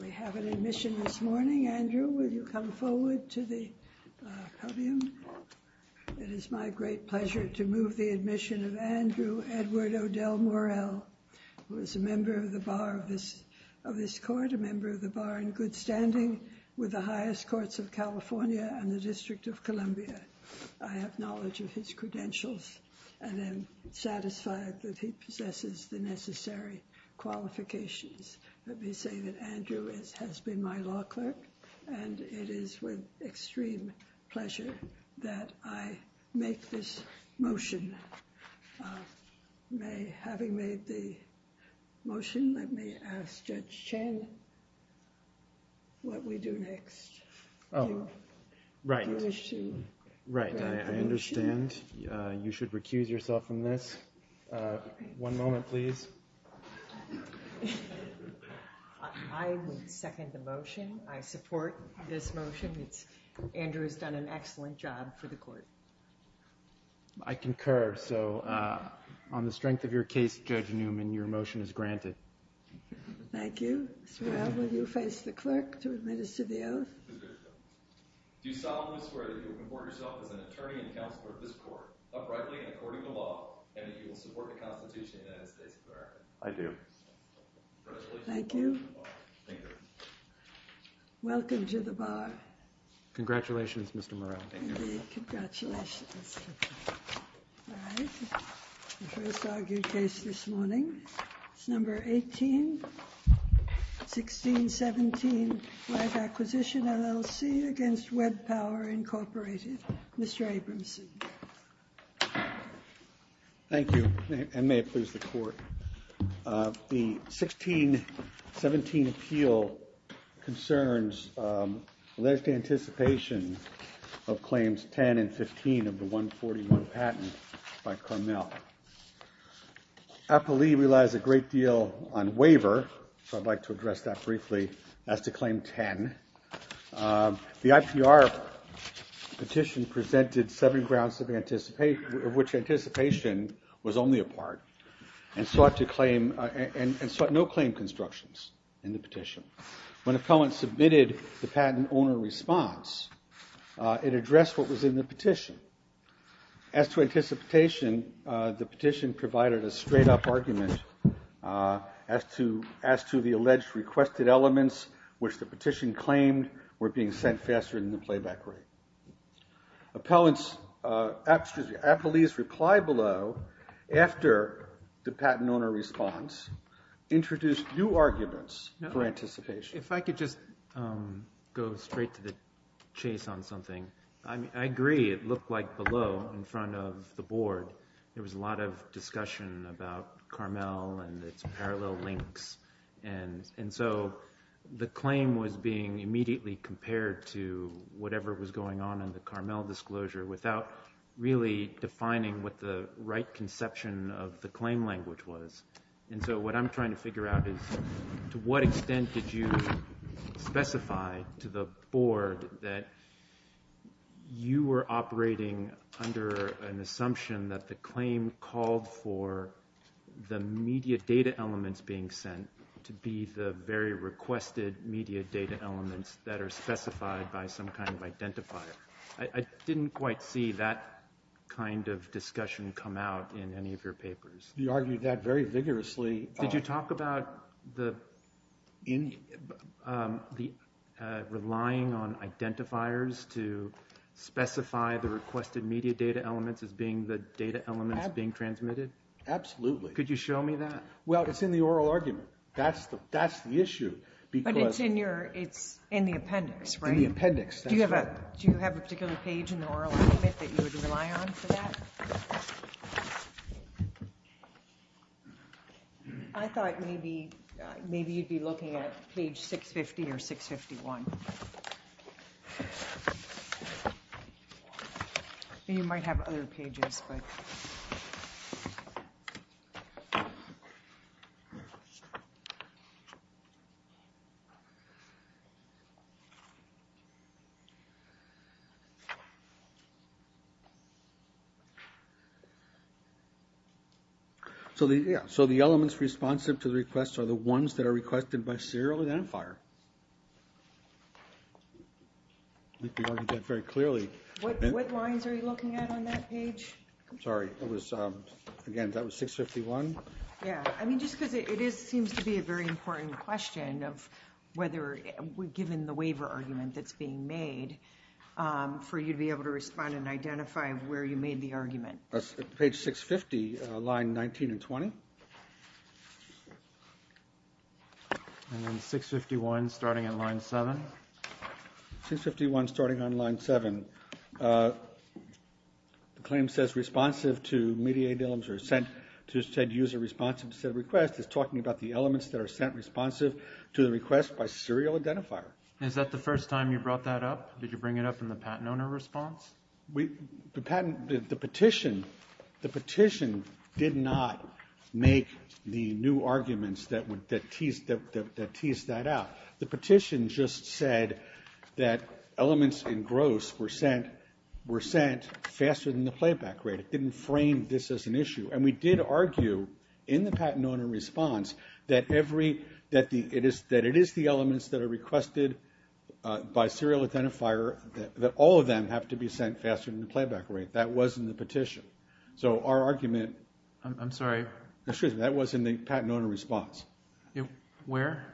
We have an admission this morning. Andrew, will you come forward to the podium? It is my great pleasure to move the admission of Andrew Edward Odell Morell, who is a member of the bar of this of this court, a member of the bar in good standing with the highest courts of California and the District of Columbia. I have knowledge of his credentials and am satisfied that he possesses the credentials. Let me say that Andrew has been my law clerk and it is with extreme pleasure that I make this motion. May, having made the motion, let me ask Judge Chen what we do next. Oh, right. Right, I understand. You should recuse yourself from this. One moment, please. I would second the motion. I support this motion. Andrew has done an excellent job for the court. I concur. So, on the strength of your case, Judge Newman, your motion is granted. Thank you. Will you face the clerk to administer the oath? Do you solemnly swear that you will comport yourself as an attorney and counselor of this court, uprightly and according to law, and that you will support the Constitution of the United States of America? I do. Congratulations. Thank you. Welcome to the bar. Congratulations, Mr. Morell. Congratulations. All right. The first argued case this morning. It's number 18, 1617, right acquisition, LLC, against Web Power, Incorporated. Mr. Abramson. Thank you, and may it please the court. The 1617 appeal concerns alleged anticipation of claims 10 and 15 of the 141 patent by Carmel. I believe it relies a great deal on waiver, so I'd like to address that briefly, as to claim 10. The IPR petition presented seven grounds of which anticipation was only a part and sought no claim constructions in the petition. When a felon submitted the patent owner response, it addressed what was in the petition. As to the alleged requested elements which the petition claimed were being sent faster than the playback rate. Appellees replied below after the patent owner response introduced new arguments for anticipation. If I could just go straight to the chase on something. I agree it looked like below in front of the board. There was a lot of discussion about Carmel and its parallel links and so the claim was being immediately compared to whatever was going on in the Carmel disclosure without really defining what the right conception of the claim language was. And so what I'm trying to figure out is to what extent did you specify to the board that you were operating under an to be the very requested media data elements that are specified by some kind of identifier. I didn't quite see that kind of discussion come out in any of your papers. You argued that very vigorously. Did you talk about the relying on identifiers to specify the requested media data elements as being the data elements being transmitted? Absolutely. Could you show me that? It's in the oral argument. That's the issue. But it's in the appendix, right? Do you have a particular page in the oral argument that you would rely on for that? I thought maybe you'd be looking at page 650 or 651. You might have other pages, but... Yeah, so the elements responsive to the requests are the ones that are requested by serial identifier. You argued that very clearly. What lines are you looking at on that page? I'm sorry. Again, that was 651? Yeah. I mean, just because it seems to be a very important question of whether, given the waiver argument that's being made, for you to be able to respond and identify where you made the argument. That's page 650, line 19 and 20. And then 651 starting at line 7? 651 starting on line 7. The claim says responsive to mediated elements or sent to said user responsive to said request is talking about the elements that are sent responsive to the request by serial identifier. Is that the first time you brought that up? Did you bring it up in the patent owner response? The petition did not make the new arguments that teased that out. The petition just said that elements in gross were sent faster than the playback rate. It didn't frame this as an issue. And we did argue in the patent owner response that it is the elements that are requested by serial identifier that all of them have to be sent faster than the playback rate. That was in the petition. So our argument... I'm sorry. Excuse me. That was in the patent owner response. Where?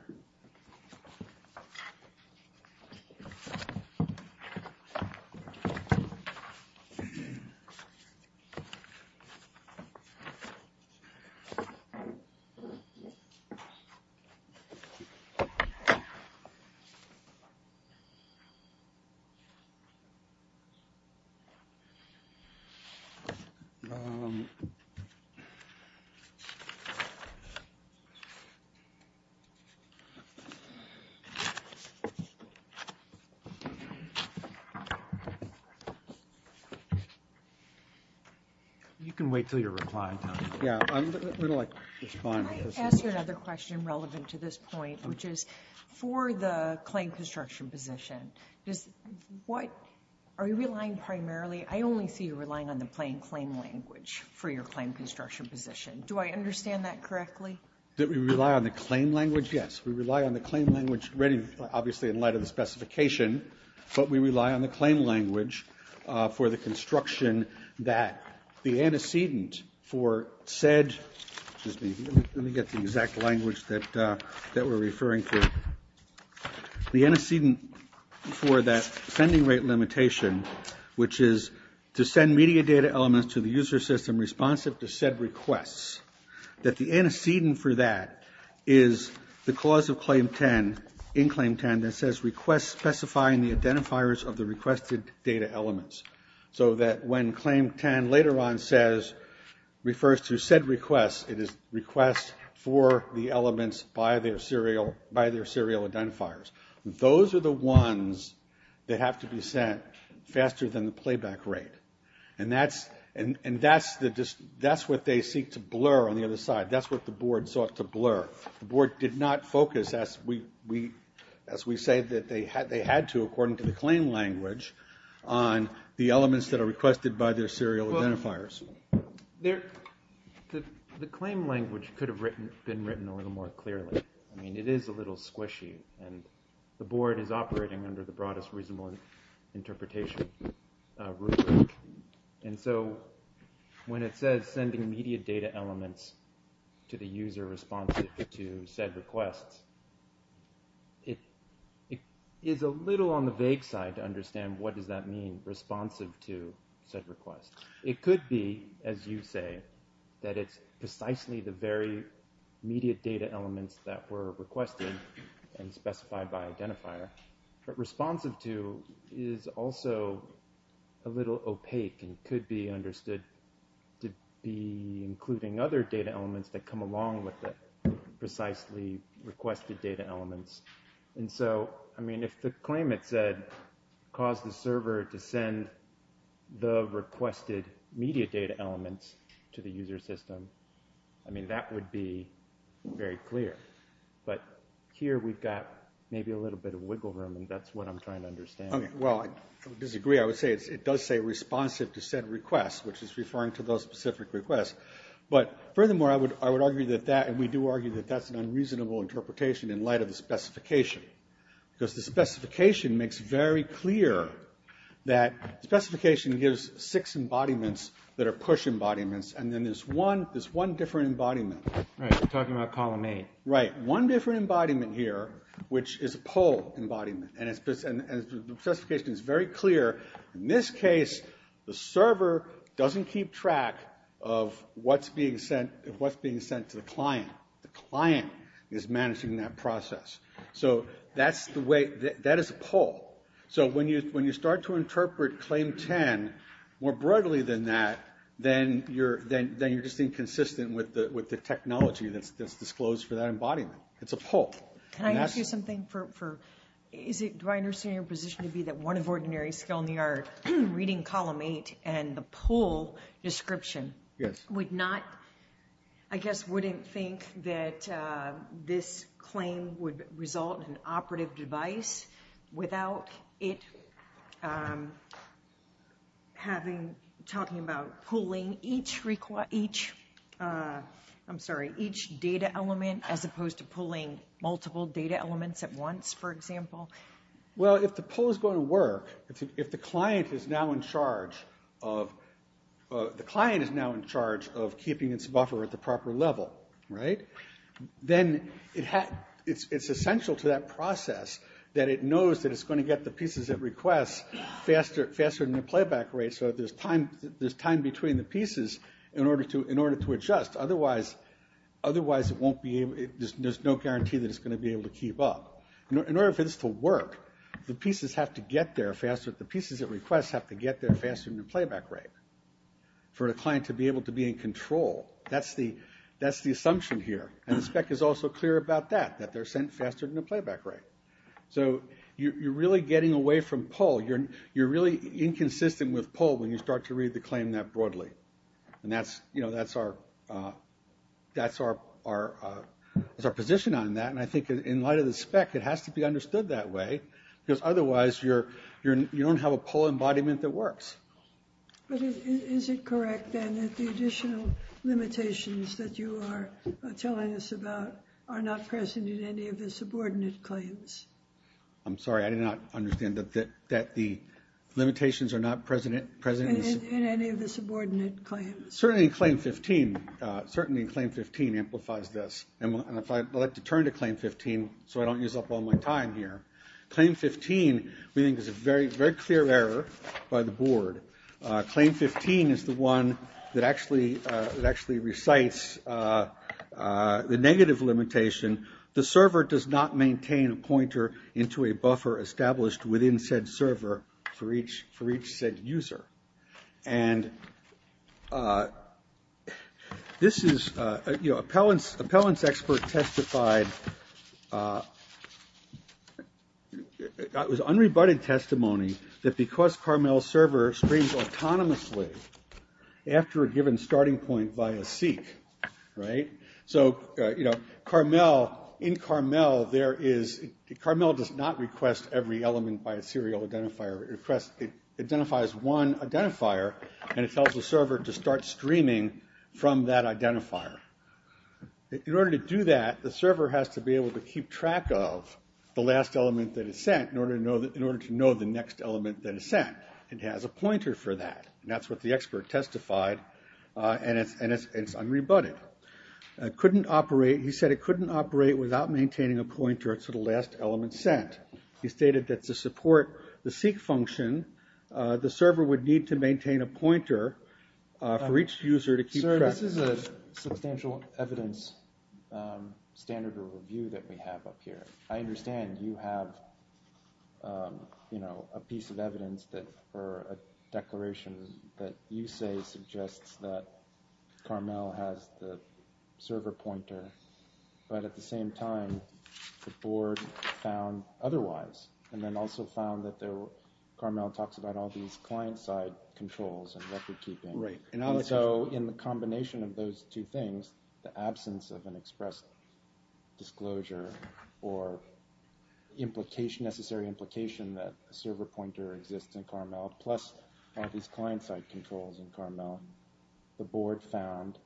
You can wait until your reply time. Yeah, I'm going to like respond. Can I ask you another question relevant to this point, which is for the claim construction position, are you relying primarily, I only see you relying on the plain claim language for your claim construction position. Do I understand that correctly? That we rely on the claim language? Yes. We rely on the claim language, obviously in light of the specification, but we rely on the claim language for the construction that the antecedent for said... Excuse me. Let me get the exact language that we're referring to. The antecedent for that sending rate limitation, which is to send media data elements to the user system responsive to said requests, that the antecedent for that is the clause of Claim 10, in Claim 10, that says request specifying the identifiers of the requested data elements. So that when Claim 10 later on says, refers to said requests, it is requests for the elements by their serial identifiers. Those are the ones that have to be sent faster than the playback rate. And that's what they seek to blur on the other side. That's what the board sought to blur. The board did not focus as we say that they had to, according to the claim language, on the elements that are requested by their serial identifiers. The claim language could have been written a little more clearly. I mean, it is a little squishy and the board is operating under the broadest reasonable interpretation. And so when it says sending media data elements to the user responsive to said requests, it is a little on the vague side to understand what does that mean, responsive to said requests. It could be, as you say, that it's precisely the very media data elements that were requested and specified by identifier. But responsive to is also a little opaque and could be understood to be including other data elements that come along with it, precisely requested data elements. And so, I mean, if the claim had said, cause the server to send the requested media data elements to the user system, I mean, that would be very clear. But here we've got maybe a little bit of wiggle room and that's what I'm trying to understand. Okay. Well, I disagree. I would say it does say responsive to said requests, which is referring to those specific requests. But furthermore, I would argue that that, and we do argue that that's an unreasonable interpretation in light of the specification. Because the specification makes very clear that specification gives six embodiments that are push embodiments. And then there's one different embodiment. Right. We're talking about column eight. Right. One different embodiment here, which is a pull embodiment. And the specification is very clear. In this case, the server doesn't keep track of what's being sent to the client. The client is managing that process. So that's the way, that is a pull. So when you start to interpret claim 10 more broadly than that, then you're just inconsistent with the technology that's disclosed for that embodiment. It's a pull. Can I ask you something? Do I understand your position to be that one of ordinary skill in the art reading column eight and the pull description would not, I guess, wouldn't think that this claim would result in an operative device without it having, talking about pulling each data element as opposed to pulling multiple data elements at once, for example? Well, if the pull is going to work, if the client is now in charge of keeping its buffer at the proper level, then it's essential to that process that it knows that it's going to get the pieces it requests faster than the playback rate. So there's time between the pieces in order to adjust. Otherwise, there's no guarantee that it's going to be able to keep up. In order for this to work, the pieces at request have to get faster than the playback rate for the client to be able to be in control. That's the assumption here. And the spec is also clear about that, that they're sent faster than the playback rate. So you're really getting away from pull. You're really inconsistent with pull when you start to read the claim that broadly. And that's our position on that. And I think in light of the spec, it has to be understood that way, because otherwise you don't have a pull embodiment that works. But is it correct, then, that the additional limitations that you are telling us about are not present in any of the subordinate claims? I'm sorry, I did not understand that the limitations are not present in any of the subordinate claims. Certainly in Claim 15. Certainly in Claim 15 amplifies this. And if I'd like to turn to Claim 15 so I don't use up all my time here. Claim 15, we think, is a very clear error by the board. Claim 15 is the one that actually recites the negative limitation. The server does not maintain a pointer into a buffer established within said server for each said user. And this is, you know, an appellant's expert testified, it was unrebutted testimony, that because Carmel's server streams autonomously after a given starting point via seek, right? So, you know, Carmel, in Carmel, there is, Carmel does not request every element by a serial identifier. It requests, it identifies one from that identifier. In order to do that, the server has to be able to keep track of the last element that is sent in order to know the next element that is sent. It has a pointer for that. And that's what the expert testified. And it's unrebutted. Couldn't operate, he said it couldn't operate without maintaining a pointer to the last element sent. He stated that to maintain a pointer for each user to keep track. Sir, this is a substantial evidence standard or review that we have up here. I understand you have, you know, a piece of evidence that, or a declaration that you say suggests that Carmel has the server pointer. But at the same time, the board found otherwise, and then also found that Carmel talks about all these client side controls and record keeping. Right. And so in the combination of those two things, the absence of an express disclosure or implication, necessary implication that a server pointer exists in Carmel, plus all these client side controls in Carmel, the board found,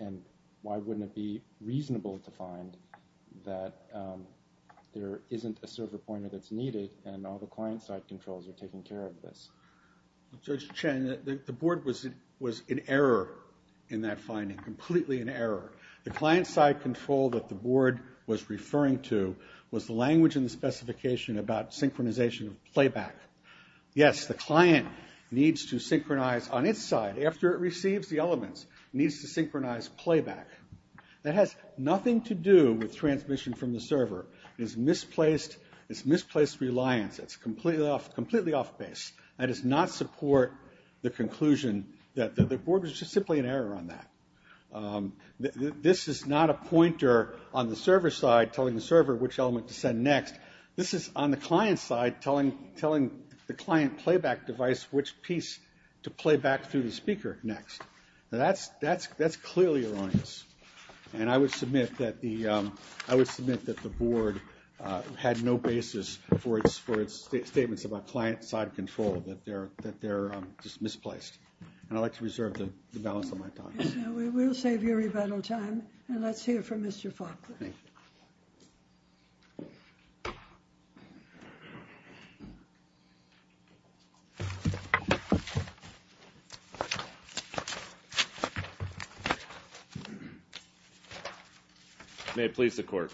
and why wouldn't it be reasonable to find that there isn't a server pointer that's taking care of this? Judge Chen, the board was in error in that finding. Completely in error. The client side control that the board was referring to was the language in the specification about synchronization of playback. Yes, the client needs to synchronize on its side, after it receives the elements, it needs to synchronize playback. That has nothing to do with transmission from the server. It's misplaced reliance. It's completely off base. That does not support the conclusion that the board was just simply in error on that. This is not a pointer on the server side telling the server which element to send next. This is on the client side telling the client playback device which piece to play back through the speaker next. Now that's clearly erroneous. And I would submit that the board had no basis for its statements about client side control, that they're just misplaced. And I'd like to reserve the balance of my time. We will save your rebuttal time, and let's hear from Mr. Faulkner. May it please the court.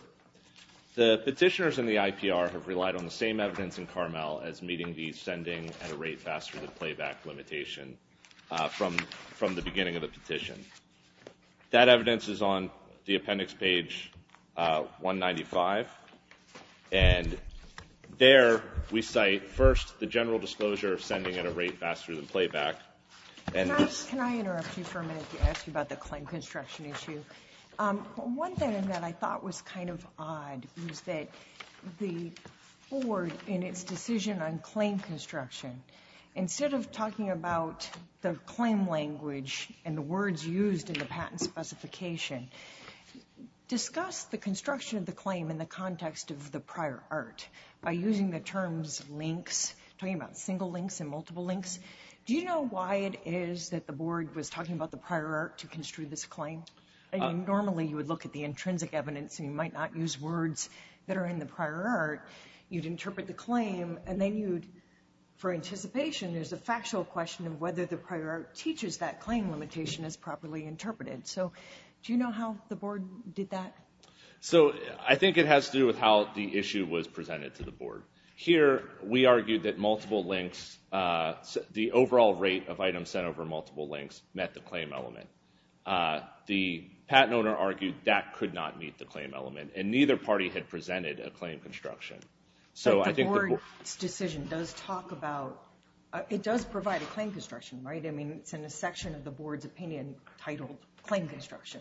The petitioners in the IPR have relied on the same evidence in Carmel as meeting the sending at a rate faster than playback limitation from the beginning of the petition. That evidence is on the appendix page 195. And there we cite first the general disclosure of sending at a rate faster than playback. And this I interrupt you for a minute to ask you about the claim construction issue. One thing that I thought was kind of odd is that the board in its decision on claim construction, instead of talking about the claim language and the words used in the patent specification, discussed the construction of the claim in the context of the prior art by using the terms links, talking about single links and multiple links. Do you know why it is that the board was talking about the prior art to construe this claim? I mean, normally you would look at the intrinsic evidence and you might not use words that are in the prior art. You'd interpret the claim, and then you'd, for anticipation, there's a factual question of whether the prior art teaches that claim limitation is properly interpreted. So do you know how the board did that? So I think it has to do with how the issue was presented to the board. Here, we argued that multiple links, the overall rate of items sent over multiple links, met the claim element. The patent owner argued that could not meet the claim element, and neither party had presented a claim construction. So I think the board's decision does talk about, it does provide a claim construction, right? I mean, it's in a section of the board's opinion titled claim construction.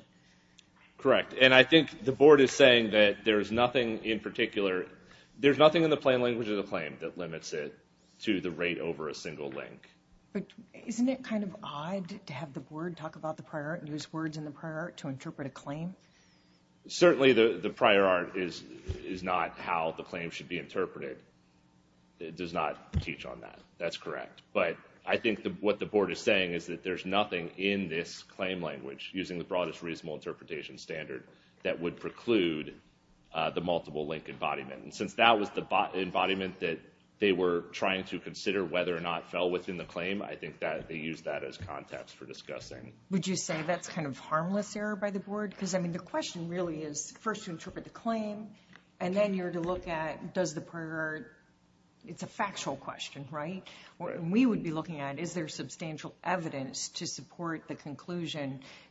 Correct. And I think the board is saying that there's nothing in particular, there's nothing in the plain language of the claim that limits it to the rate over a single link. But isn't it kind of odd to have the board talk about the prior art and use words in the prior art to interpret a claim? Certainly the prior art is not how the claim should be interpreted. It does not teach on that. That's correct. But I think what the board is saying is that there's nothing in this claim language, using the broadest reasonable interpretation standard, that would preclude the multiple link embodiment. And since that was the embodiment that they were trying to consider whether or not fell within the claim, I think that they used that as context for discussing. Would you say that's kind of harmless error by the board? Because I mean, the question really is, first to interpret the claim, and then you're to look at, does the prior art, it's a factual question, right? We would be looking at, is there something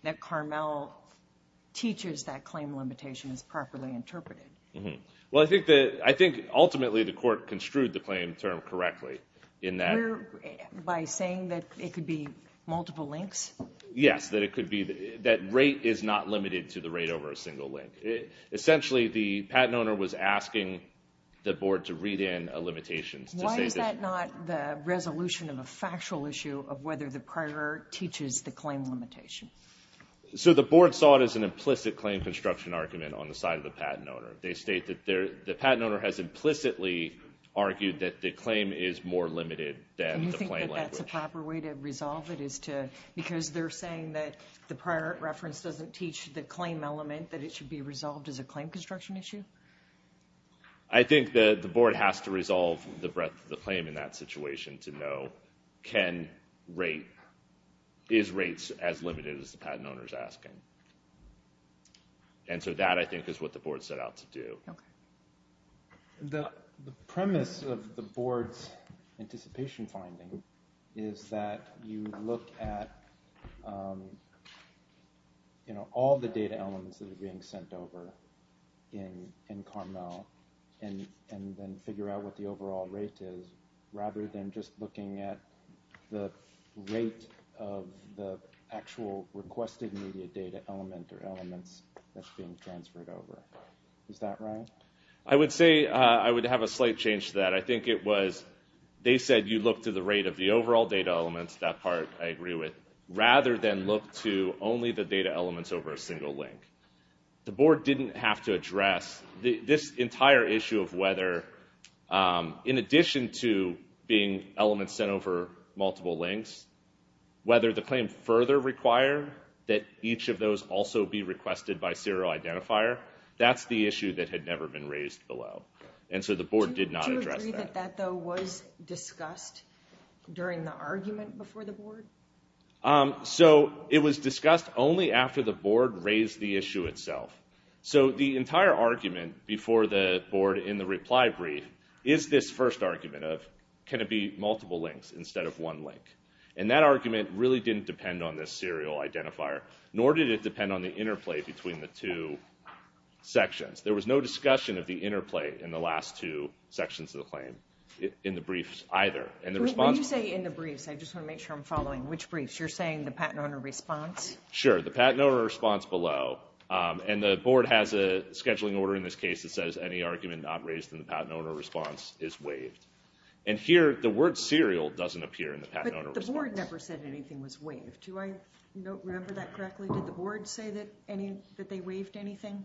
that teaches that claim limitation is properly interpreted? Well, I think ultimately the court construed the claim term correctly in that. By saying that it could be multiple links? Yes, that it could be, that rate is not limited to the rate over a single link. Essentially, the patent owner was asking the board to read in a limitation. Why is that not the resolution of a factual issue of whether the prior art teaches the claim limitation? So the board saw it as an implicit claim construction argument on the side of the patent owner. They state that the patent owner has implicitly argued that the claim is more limited than the claim language. Do you think that that's a proper way to resolve it? Because they're saying that the prior reference doesn't teach the claim element, that it should be resolved as a claim construction issue? I think that the board has to resolve the claim in that situation to know, is rates as limited as the patent owner's asking? And so that, I think, is what the board set out to do. The premise of the board's anticipation finding is that you look at all the data elements that are being sent over in Carmel and then figure out what the overall rate is, rather than just looking at the rate of the actual requested media data element or elements that's being transferred over. Is that right? I would say I would have a slight change to that. I think it was, they said you look to the rate of the overall data elements, that part I agree with, rather than look to only the data elements over a single link. The board didn't have to address this entire issue of whether, in addition to being elements sent over multiple links, whether the claim further require that each of those also be requested by serial identifier. That's the issue that had never been raised below, and so the board did not address that. Do you agree that that, though, was discussed during the argument before the board? So it was discussed only after the board raised the issue itself. So the entire argument before the board, in the reply brief, is this first argument of can it be multiple links instead of one link, and that argument really didn't depend on this serial identifier, nor did it depend on the interplay between the two sections. There was no discussion of the interplay in the last two sections of the claim, in the briefs, either. When you say in the briefs, I just want to make sure I'm following. Which briefs? You're saying the patent owner response? Sure, the patent owner response below, and the board has a scheduling order in this case that says any argument not raised in the patent owner response is waived, and here the word serial doesn't appear in the patent owner response. But the board never said anything was waived. Do I remember that correctly? Did the board say that they waived anything?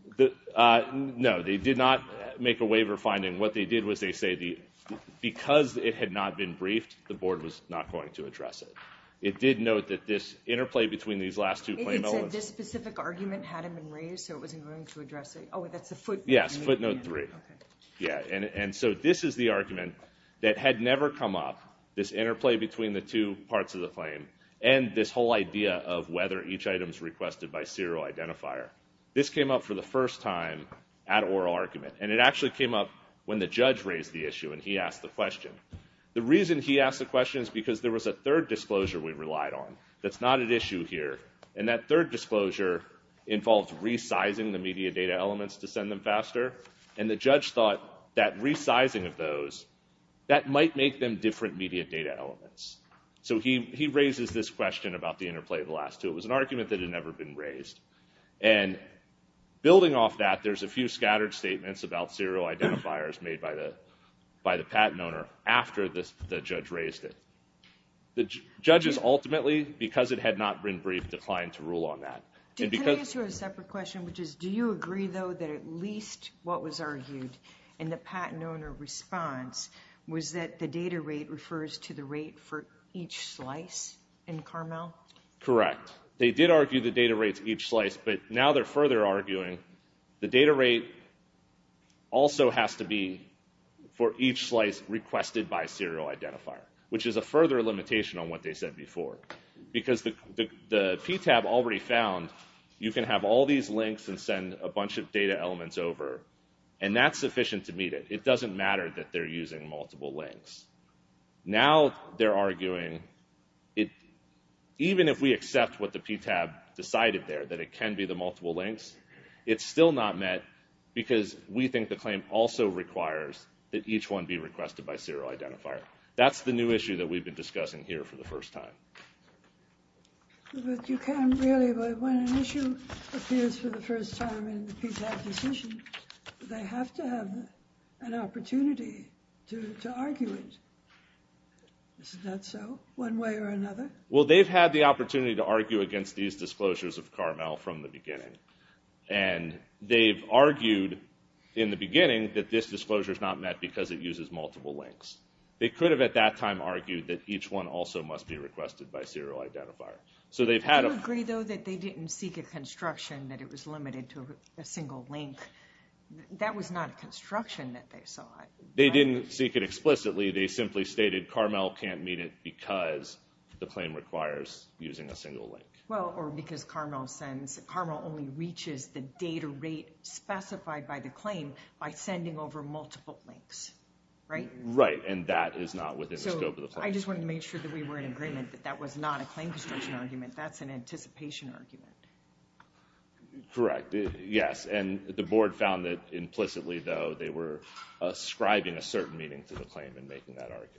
No, they did not make a waiver finding. What they did was they said because it had not been briefed, the board was not going to address it. It did note that this interplay between these last two claim elements. It said this specific argument hadn't been raised, so it wasn't going to address it. Oh, that's the footnote. Yes, footnote three. Yeah, and so this is the argument that had never come up, this interplay between the two parts of the claim, and this whole idea of whether each item is requested by serial identifier. This came up the first time at oral argument, and it actually came up when the judge raised the issue and he asked the question. The reason he asked the question is because there was a third disclosure we relied on that's not at issue here, and that third disclosure involved resizing the media data elements to send them faster, and the judge thought that resizing of those, that might make them different media data elements. So he raises this question about the interplay of the last two. It was an argument that had never been raised, and building off that, there's a few scattered statements about serial identifiers made by the patent owner after the judge raised it. The judges ultimately, because it had not been briefed, declined to rule on that. Can I ask you a separate question, which is, do you agree though that at least what was argued in the patent owner response was that the data rate refers to the rate for each slice in Carmel? Correct. They did argue the data rates each slice, but now they're further arguing the data rate also has to be for each slice requested by serial identifier, which is a further limitation on what they said before, because the PTAB already found you can have all these links and send a bunch of data elements over, and that's sufficient to meet it. It doesn't matter that they're using multiple links. Now they're arguing, even if we accept what the PTAB decided there, that it can be the multiple links, it's still not met because we think the claim also requires that each one be requested by serial identifier. That's the new issue that we've been discussing here for the first time. But you can't really, but when an issue appears for the first time in the PTAB decision, they have to have an opportunity to argue it. Is that so, one way or another? Well they've had the opportunity to argue against these disclosures of Carmel from the beginning, and they've argued in the beginning that this disclosure is not met because it uses multiple links. They could have at that time argued that each one also must be requested by serial identifier. Do you agree though that they didn't seek a construction that it was limited to a single link? That was not a construction that they saw. They didn't seek it explicitly, they simply stated Carmel can't meet it because the claim requires using a single link. Well, or because Carmel sends, Carmel only reaches the data rate specified by the claim by sending over multiple links, right? Right, and that is not within the scope of the claim. I just wanted to make sure that we were in agreement that that was not a claim construction argument, that's an anticipation argument. Correct, yes, and the board found that implicitly though they were ascribing a certain meaning to the claim and making that argument.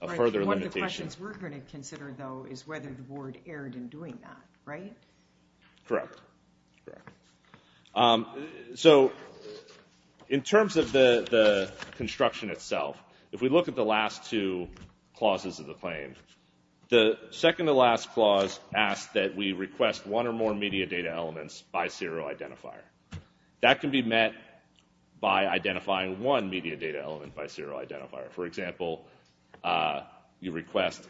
A further limitation. One of the questions we're going to consider though is whether the board erred in doing that, right? Correct, correct. So, in terms of the construction itself, if we look at the last two clauses of the claim, the second to last clause asks that we request one or more media data elements by serial identifier. That can be met by identifying one media data element by serial identifier. For example, you request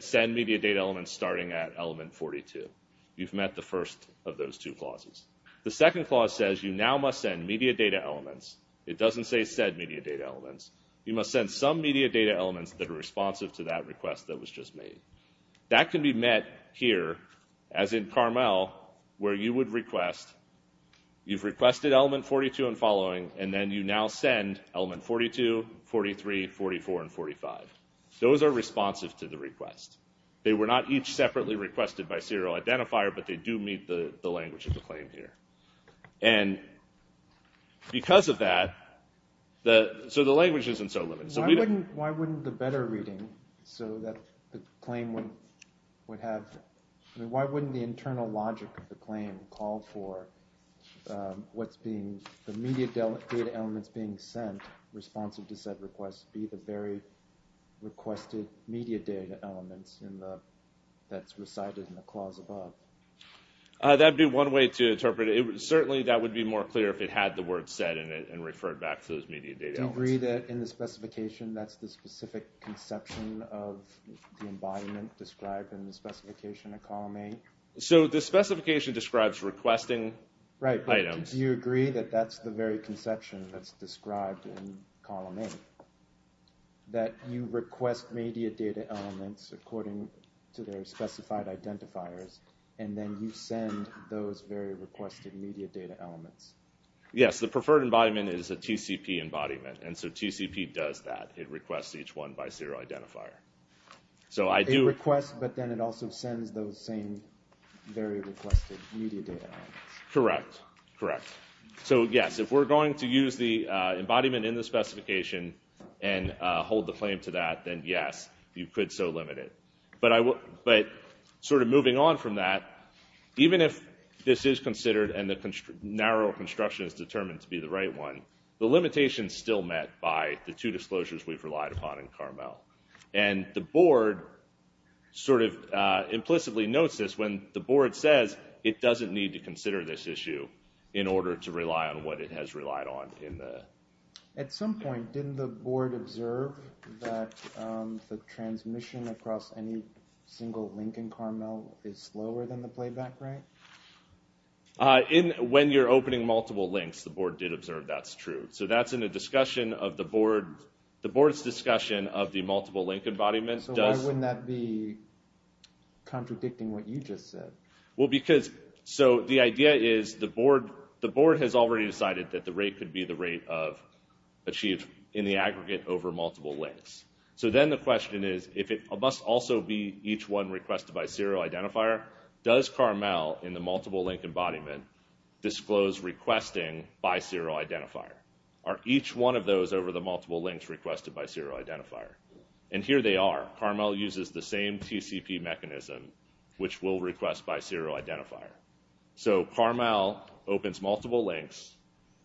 send media data elements starting at element 42. You've met the first of those two clauses. The second clause says you now must send media data elements, it doesn't say said media data elements, you must send some media data elements that are responsive to that request that was just made. That can be met here, as in Carmel, where you would request, you've requested element 42 and following, and then you now send element 42, 43, 44, and 45. Those are responsive to the request. They were not each separately requested by serial identifier, but they do meet the language of the claim here. And because of that, so the language isn't so limited. Why wouldn't the better reading, so that the claim would have, I mean, why wouldn't the internal logic of the claim call for what's being, the media data elements being sent responsive to said request be the very requested media data elements in the, that's recited in the clause above? That'd be one way to interpret it. Certainly that would be more clear if it had the specification, that's the specific conception of the embodiment described in the specification of column A. So the specification describes requesting items. Right, but do you agree that that's the very conception that's described in column A? That you request media data elements according to their specified identifiers, and then you send those very requested media data elements. Yes, the preferred embodiment is a TCP embodiment, and so TCP does that. It requests each one by serial identifier. It requests, but then it also sends those same very requested media data elements. Correct, correct. So yes, if we're going to use the embodiment in the specification and hold the claim to that, then yes, you could so limit it. But sort of moving on from that, even if this is considered and the narrow construction is determined to be the right one, the limitation is still met by the two disclosures we've relied upon in Carmel. And the board sort of implicitly notes this when the board says it doesn't need to consider this issue in order to rely on what it has relied on. At some point, didn't the board observe that the transmission across any single link in Carmel is slower than the playback rate? When you're opening multiple links, the board did observe that's true. So that's in a discussion of the board's discussion of the multiple link embodiment. So why wouldn't that be contradicting what you just said? Well, because so the idea is the board has already decided that the rate could be the rate of achieved in the aggregate over multiple links. So then the question is, if it must also be each one requested by serial identifier, does Carmel in the multiple link embodiment disclose requesting by serial identifier? Are each one of those over the multiple links requested by serial identifier? And here they are. Carmel uses the same TCP mechanism which will request by serial identifier. So Carmel opens multiple links.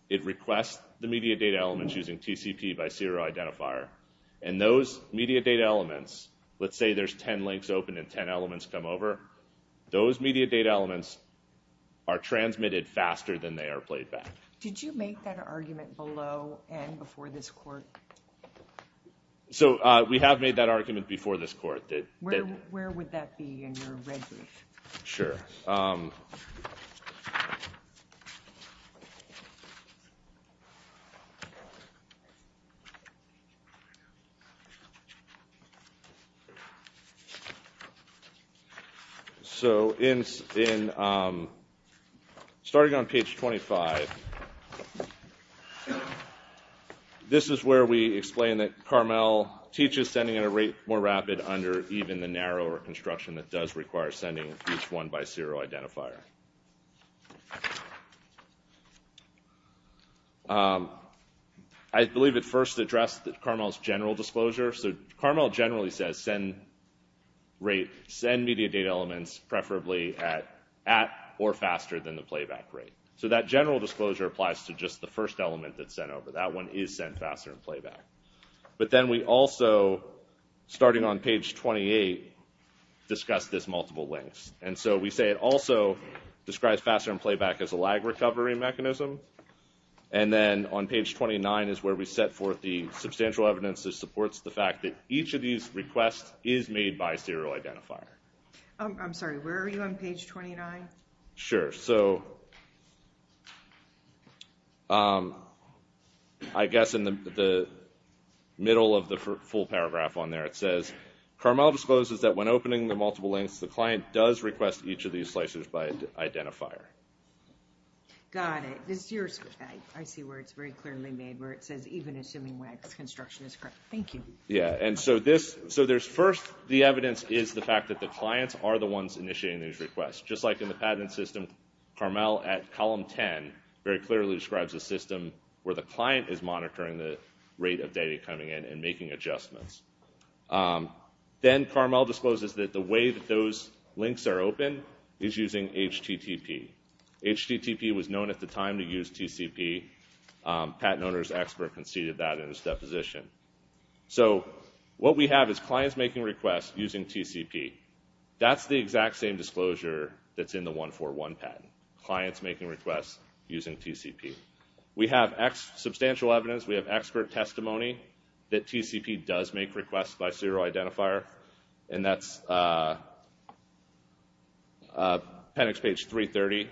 It requests the media data elements using TCP by serial identifier. And those media data elements, let's say there's 10 links open and 10 elements come over, those media data elements are transmitted faster than they are played back. Did you make that argument below and before this court? So we have made that argument. So starting on page 25, this is where we explain that Carmel teaches sending at a rate more rapid under even the narrower construction that does require sending each one by serial identifier. I believe at first addressed that Carmel's general disclosure. So Carmel generally says send rate, send media data elements preferably at or faster than the playback rate. So that general disclosure applies to just the first element that's sent over. That one is sent faster and playback. But then we also, starting on page 28, discuss this multiple links. And so we say it also describes faster and playback as a lag recovery mechanism. And then on page 29 is where we set the substantial evidence that supports the fact that each of these requests is made by serial identifier. I'm sorry, where are you on page 29? Sure. So I guess in the middle of the full paragraph on there, it says Carmel discloses that when opening the multiple links, the client does request each of these slicers by identifier. Got it. I see where it's very clearly made, where it says even assuming WEG's construction is correct. Thank you. Yeah, and so there's first the evidence is the fact that the clients are the ones initiating these requests. Just like in the patent system, Carmel at column 10 very clearly describes a system where the client is monitoring the rate of data coming in and making adjustments. Then Carmel discloses that the way that those links are open is using HTTP. HTTP was known at the time to use TCP. A patent owner's expert conceded that in his deposition. So what we have is clients making requests using TCP. That's the exact same disclosure that's in the 141 patent. Clients making requests using TCP. We have substantial evidence. We have expert testimony that TCP does make requests by serial identifier. And that's on the PENIX page 330.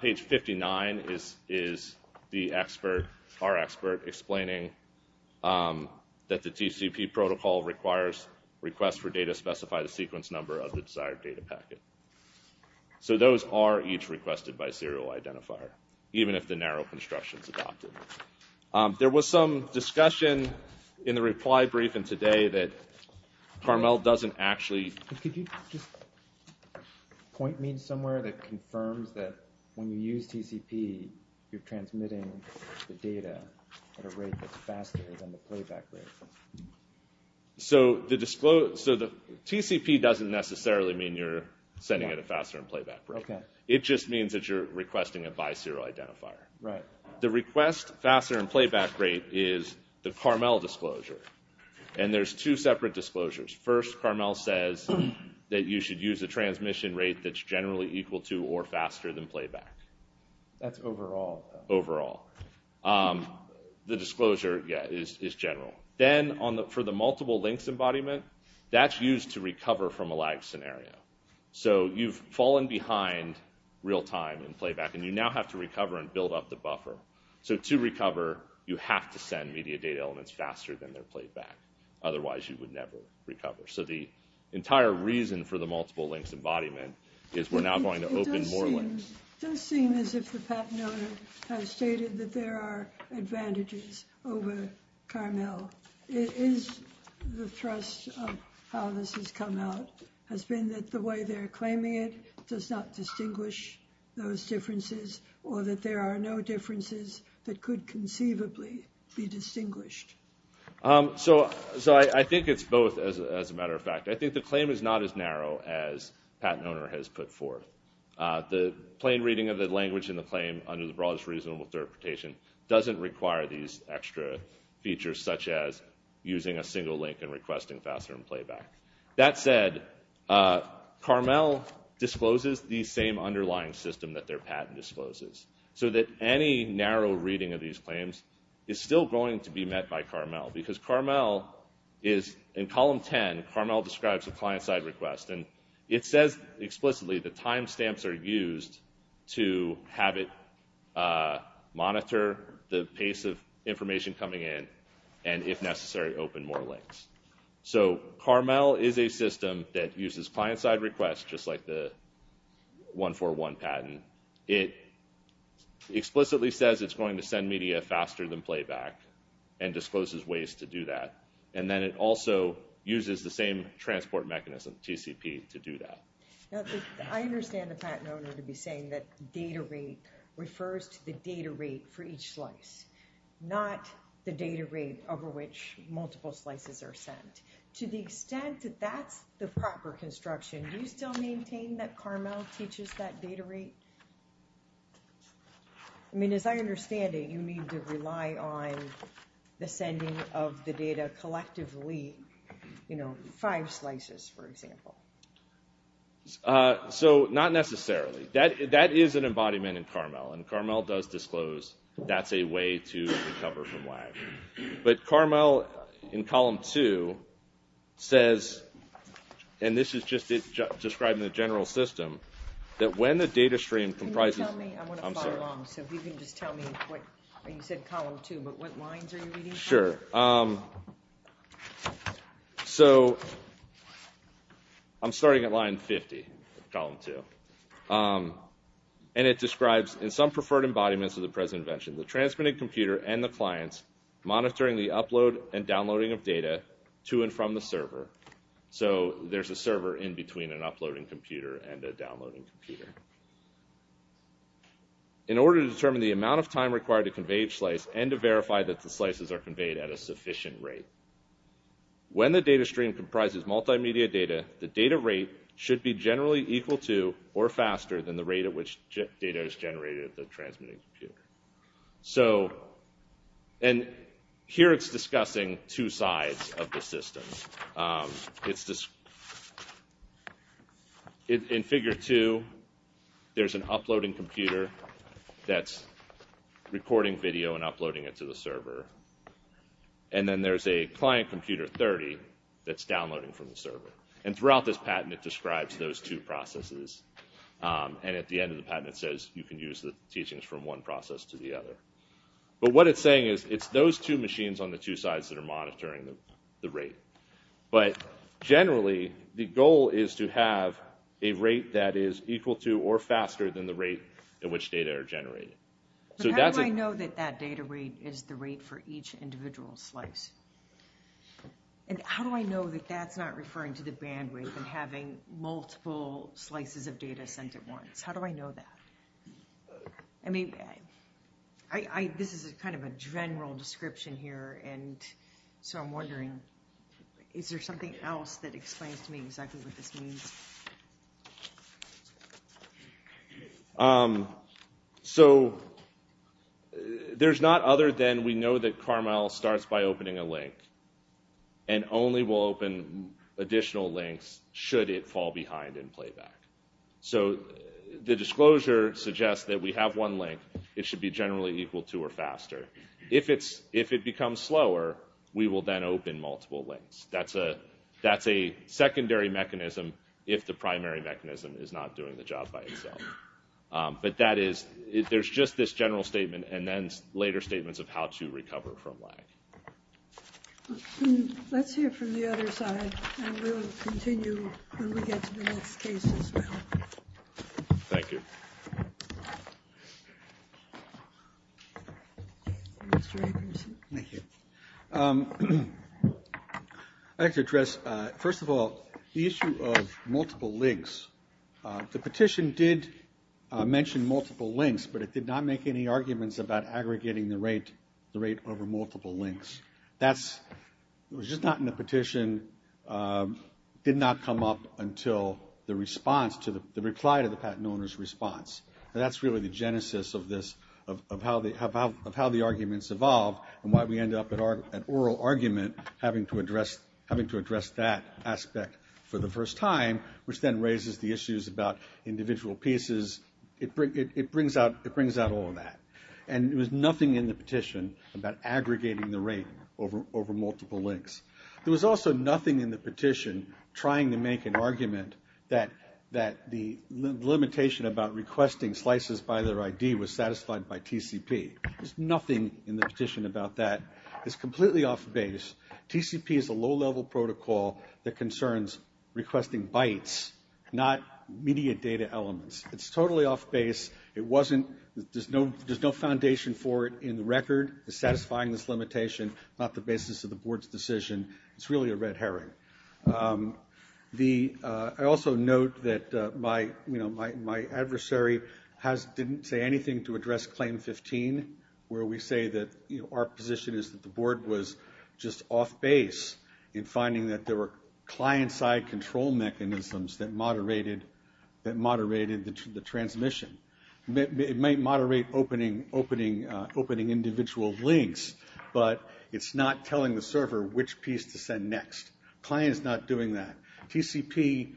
Page 59 is the expert, our expert, explaining that the TCP protocol requires requests for data specify the sequence number of the desired data packet. So those are each requested by serial identifier, even if the narrow construction is adopted. There was some discussion in the Could you just point me somewhere that confirms that when you use TCP, you're transmitting the data at a rate that's faster than the playback rate? So the TCP doesn't necessarily mean you're sending it a faster playback rate. It just means that you're requesting it by serial identifier. The request faster playback rate is the Carmel disclosure. And there's two separate disclosures. First, Carmel says that you should use a transmission rate that's generally equal to or faster than playback. That's overall? Overall. The disclosure, yeah, is general. Then for the multiple links embodiment, that's used to recover from a lag scenario. So you've fallen behind real time in playback and you now have to recover and build up the buffer. So to recover, you have to So the entire reason for the multiple links embodiment is we're now going to open more links. It does seem as if the patent owner has stated that there are advantages over Carmel. Is the thrust of how this has come out has been that the way they're claiming it does not distinguish those differences or that there are no differences that could conceivably be distinguished? So I think it's both, as a matter of fact. I think the claim is not as narrow as patent owner has put forth. The plain reading of the language in the claim under the broadest reasonable interpretation doesn't require these extra features such as using a single link and requesting faster playback. That said, Carmel discloses the same underlying system that their because Carmel is, in column 10, Carmel describes a client-side request and it says explicitly the timestamps are used to have it monitor the pace of information coming in and, if necessary, open more links. So Carmel is a system that uses client-side requests just like the 141 patent. It explicitly says it's going to send media faster than playback and discloses ways to do that. And then it also uses the same transport mechanism, TCP, to do that. I understand the patent owner to be saying that data rate refers to the data rate for each slice, not the data rate over which multiple slices are sent. To the extent that that's the proper construction, do you still maintain that Carmel teaches that data rate? I mean, as I understand it, you need to rely on the sending of the data collectively, you know, five slices, for example. So not necessarily. That is an embodiment in Carmel and Carmel does disclose that's a way to recover from lag. But Carmel, in column two, says, and this is just describing the general system, that when the data stream comprises... Can you tell me? I want to follow along. So if you can just tell me what, you said column two, but what lines are you reading? Sure. So I'm starting at line 50, column two. And it describes, in some preferred embodiments of the present invention, the transmitted computer and the clients monitoring the upload and downloading of data to and from the server. So there's a server in between an uploading computer and a downloading computer. In order to determine the amount of time required to convey each slice and to verify that the slices are conveyed at a sufficient rate, when the data stream comprises multimedia data, the data rate should be generally equal to or faster than the rate at which data is transmitted to the sides of the system. In figure two, there's an uploading computer that's recording video and uploading it to the server. And then there's a client computer 30 that's downloading from the server. And throughout this patent, it describes those two processes. And at the end of the patent, it says you can use the teachings from one process to the other. But what it's saying is it's those two machines on the two sides that are monitoring the rate. But generally, the goal is to have a rate that is equal to or faster than the rate at which data are generated. So how do I know that that data rate is the rate for each individual slice? And how do I know that that's not referring to the bandwidth and having multiple slices of data sent at once? How do I know that? I mean, this is kind of a general description here. And so I'm wondering, is there something else that explains to me exactly what this means? So there's not other than we know that Carmel starts by opening a link, and only will open additional links should it fall behind in playback. So the disclosure suggests that we have one link. It should be generally equal to or faster. If it becomes slower, we will then open multiple links. That's a secondary mechanism if the primary mechanism is not doing the job by itself. But there's just this general statement and then later statements of how to recover from lag. Let's hear from the other side, and we will continue when we get to the next case as well. Thank you. Thank you. I'd like to address, first of all, the issue of multiple links. The petition did mention multiple links, but it did not make any arguments about aggregating the rate over multiple links. It was just not in the petition. It did not come up until the reply to the patent owner's response. That's really the genesis of how the arguments evolve and why we end up at oral argument having to address that aspect for the first time, which then raises the issues about individual pieces. It brings out all of that. And there was nothing in the petition about aggregating the rate over multiple links. There was also nothing in the petition trying to make an argument that the limitation about requesting slices by their ID was satisfied by TCP. There's nothing in the petition about that. It's completely off base. TCP is a low-level protocol that elements. It's totally off base. There's no foundation for it in the record. It's satisfying this limitation, not the basis of the Board's decision. It's really a red herring. I also note that my adversary didn't say anything to address Claim 15, where we say that our position is that the Board was just off base in finding that there were client-side control mechanisms that moderated the transmission. It might moderate opening individual links, but it's not telling the server which piece to send next. The client is not doing that. TCP,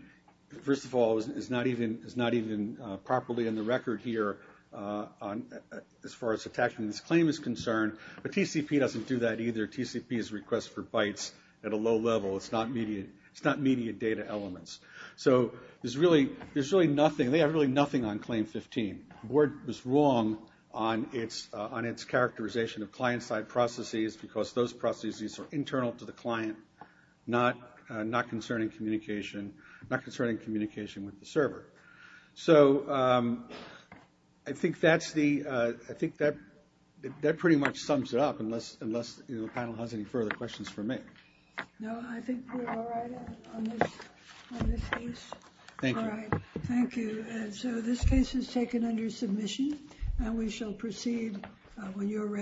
first of all, is not even properly in the record here as far as attaching this claim is concerned, but TCP doesn't do that They have really nothing on Claim 15. The Board was wrong on its characterization of client-side processes because those processes are internal to the client, not concerning communication with the server. I think that pretty much sums it up, unless the panel has any further questions for me. No, I think we're all right on this case. Thank you. So this case is taken under submission and we shall proceed when you're ready.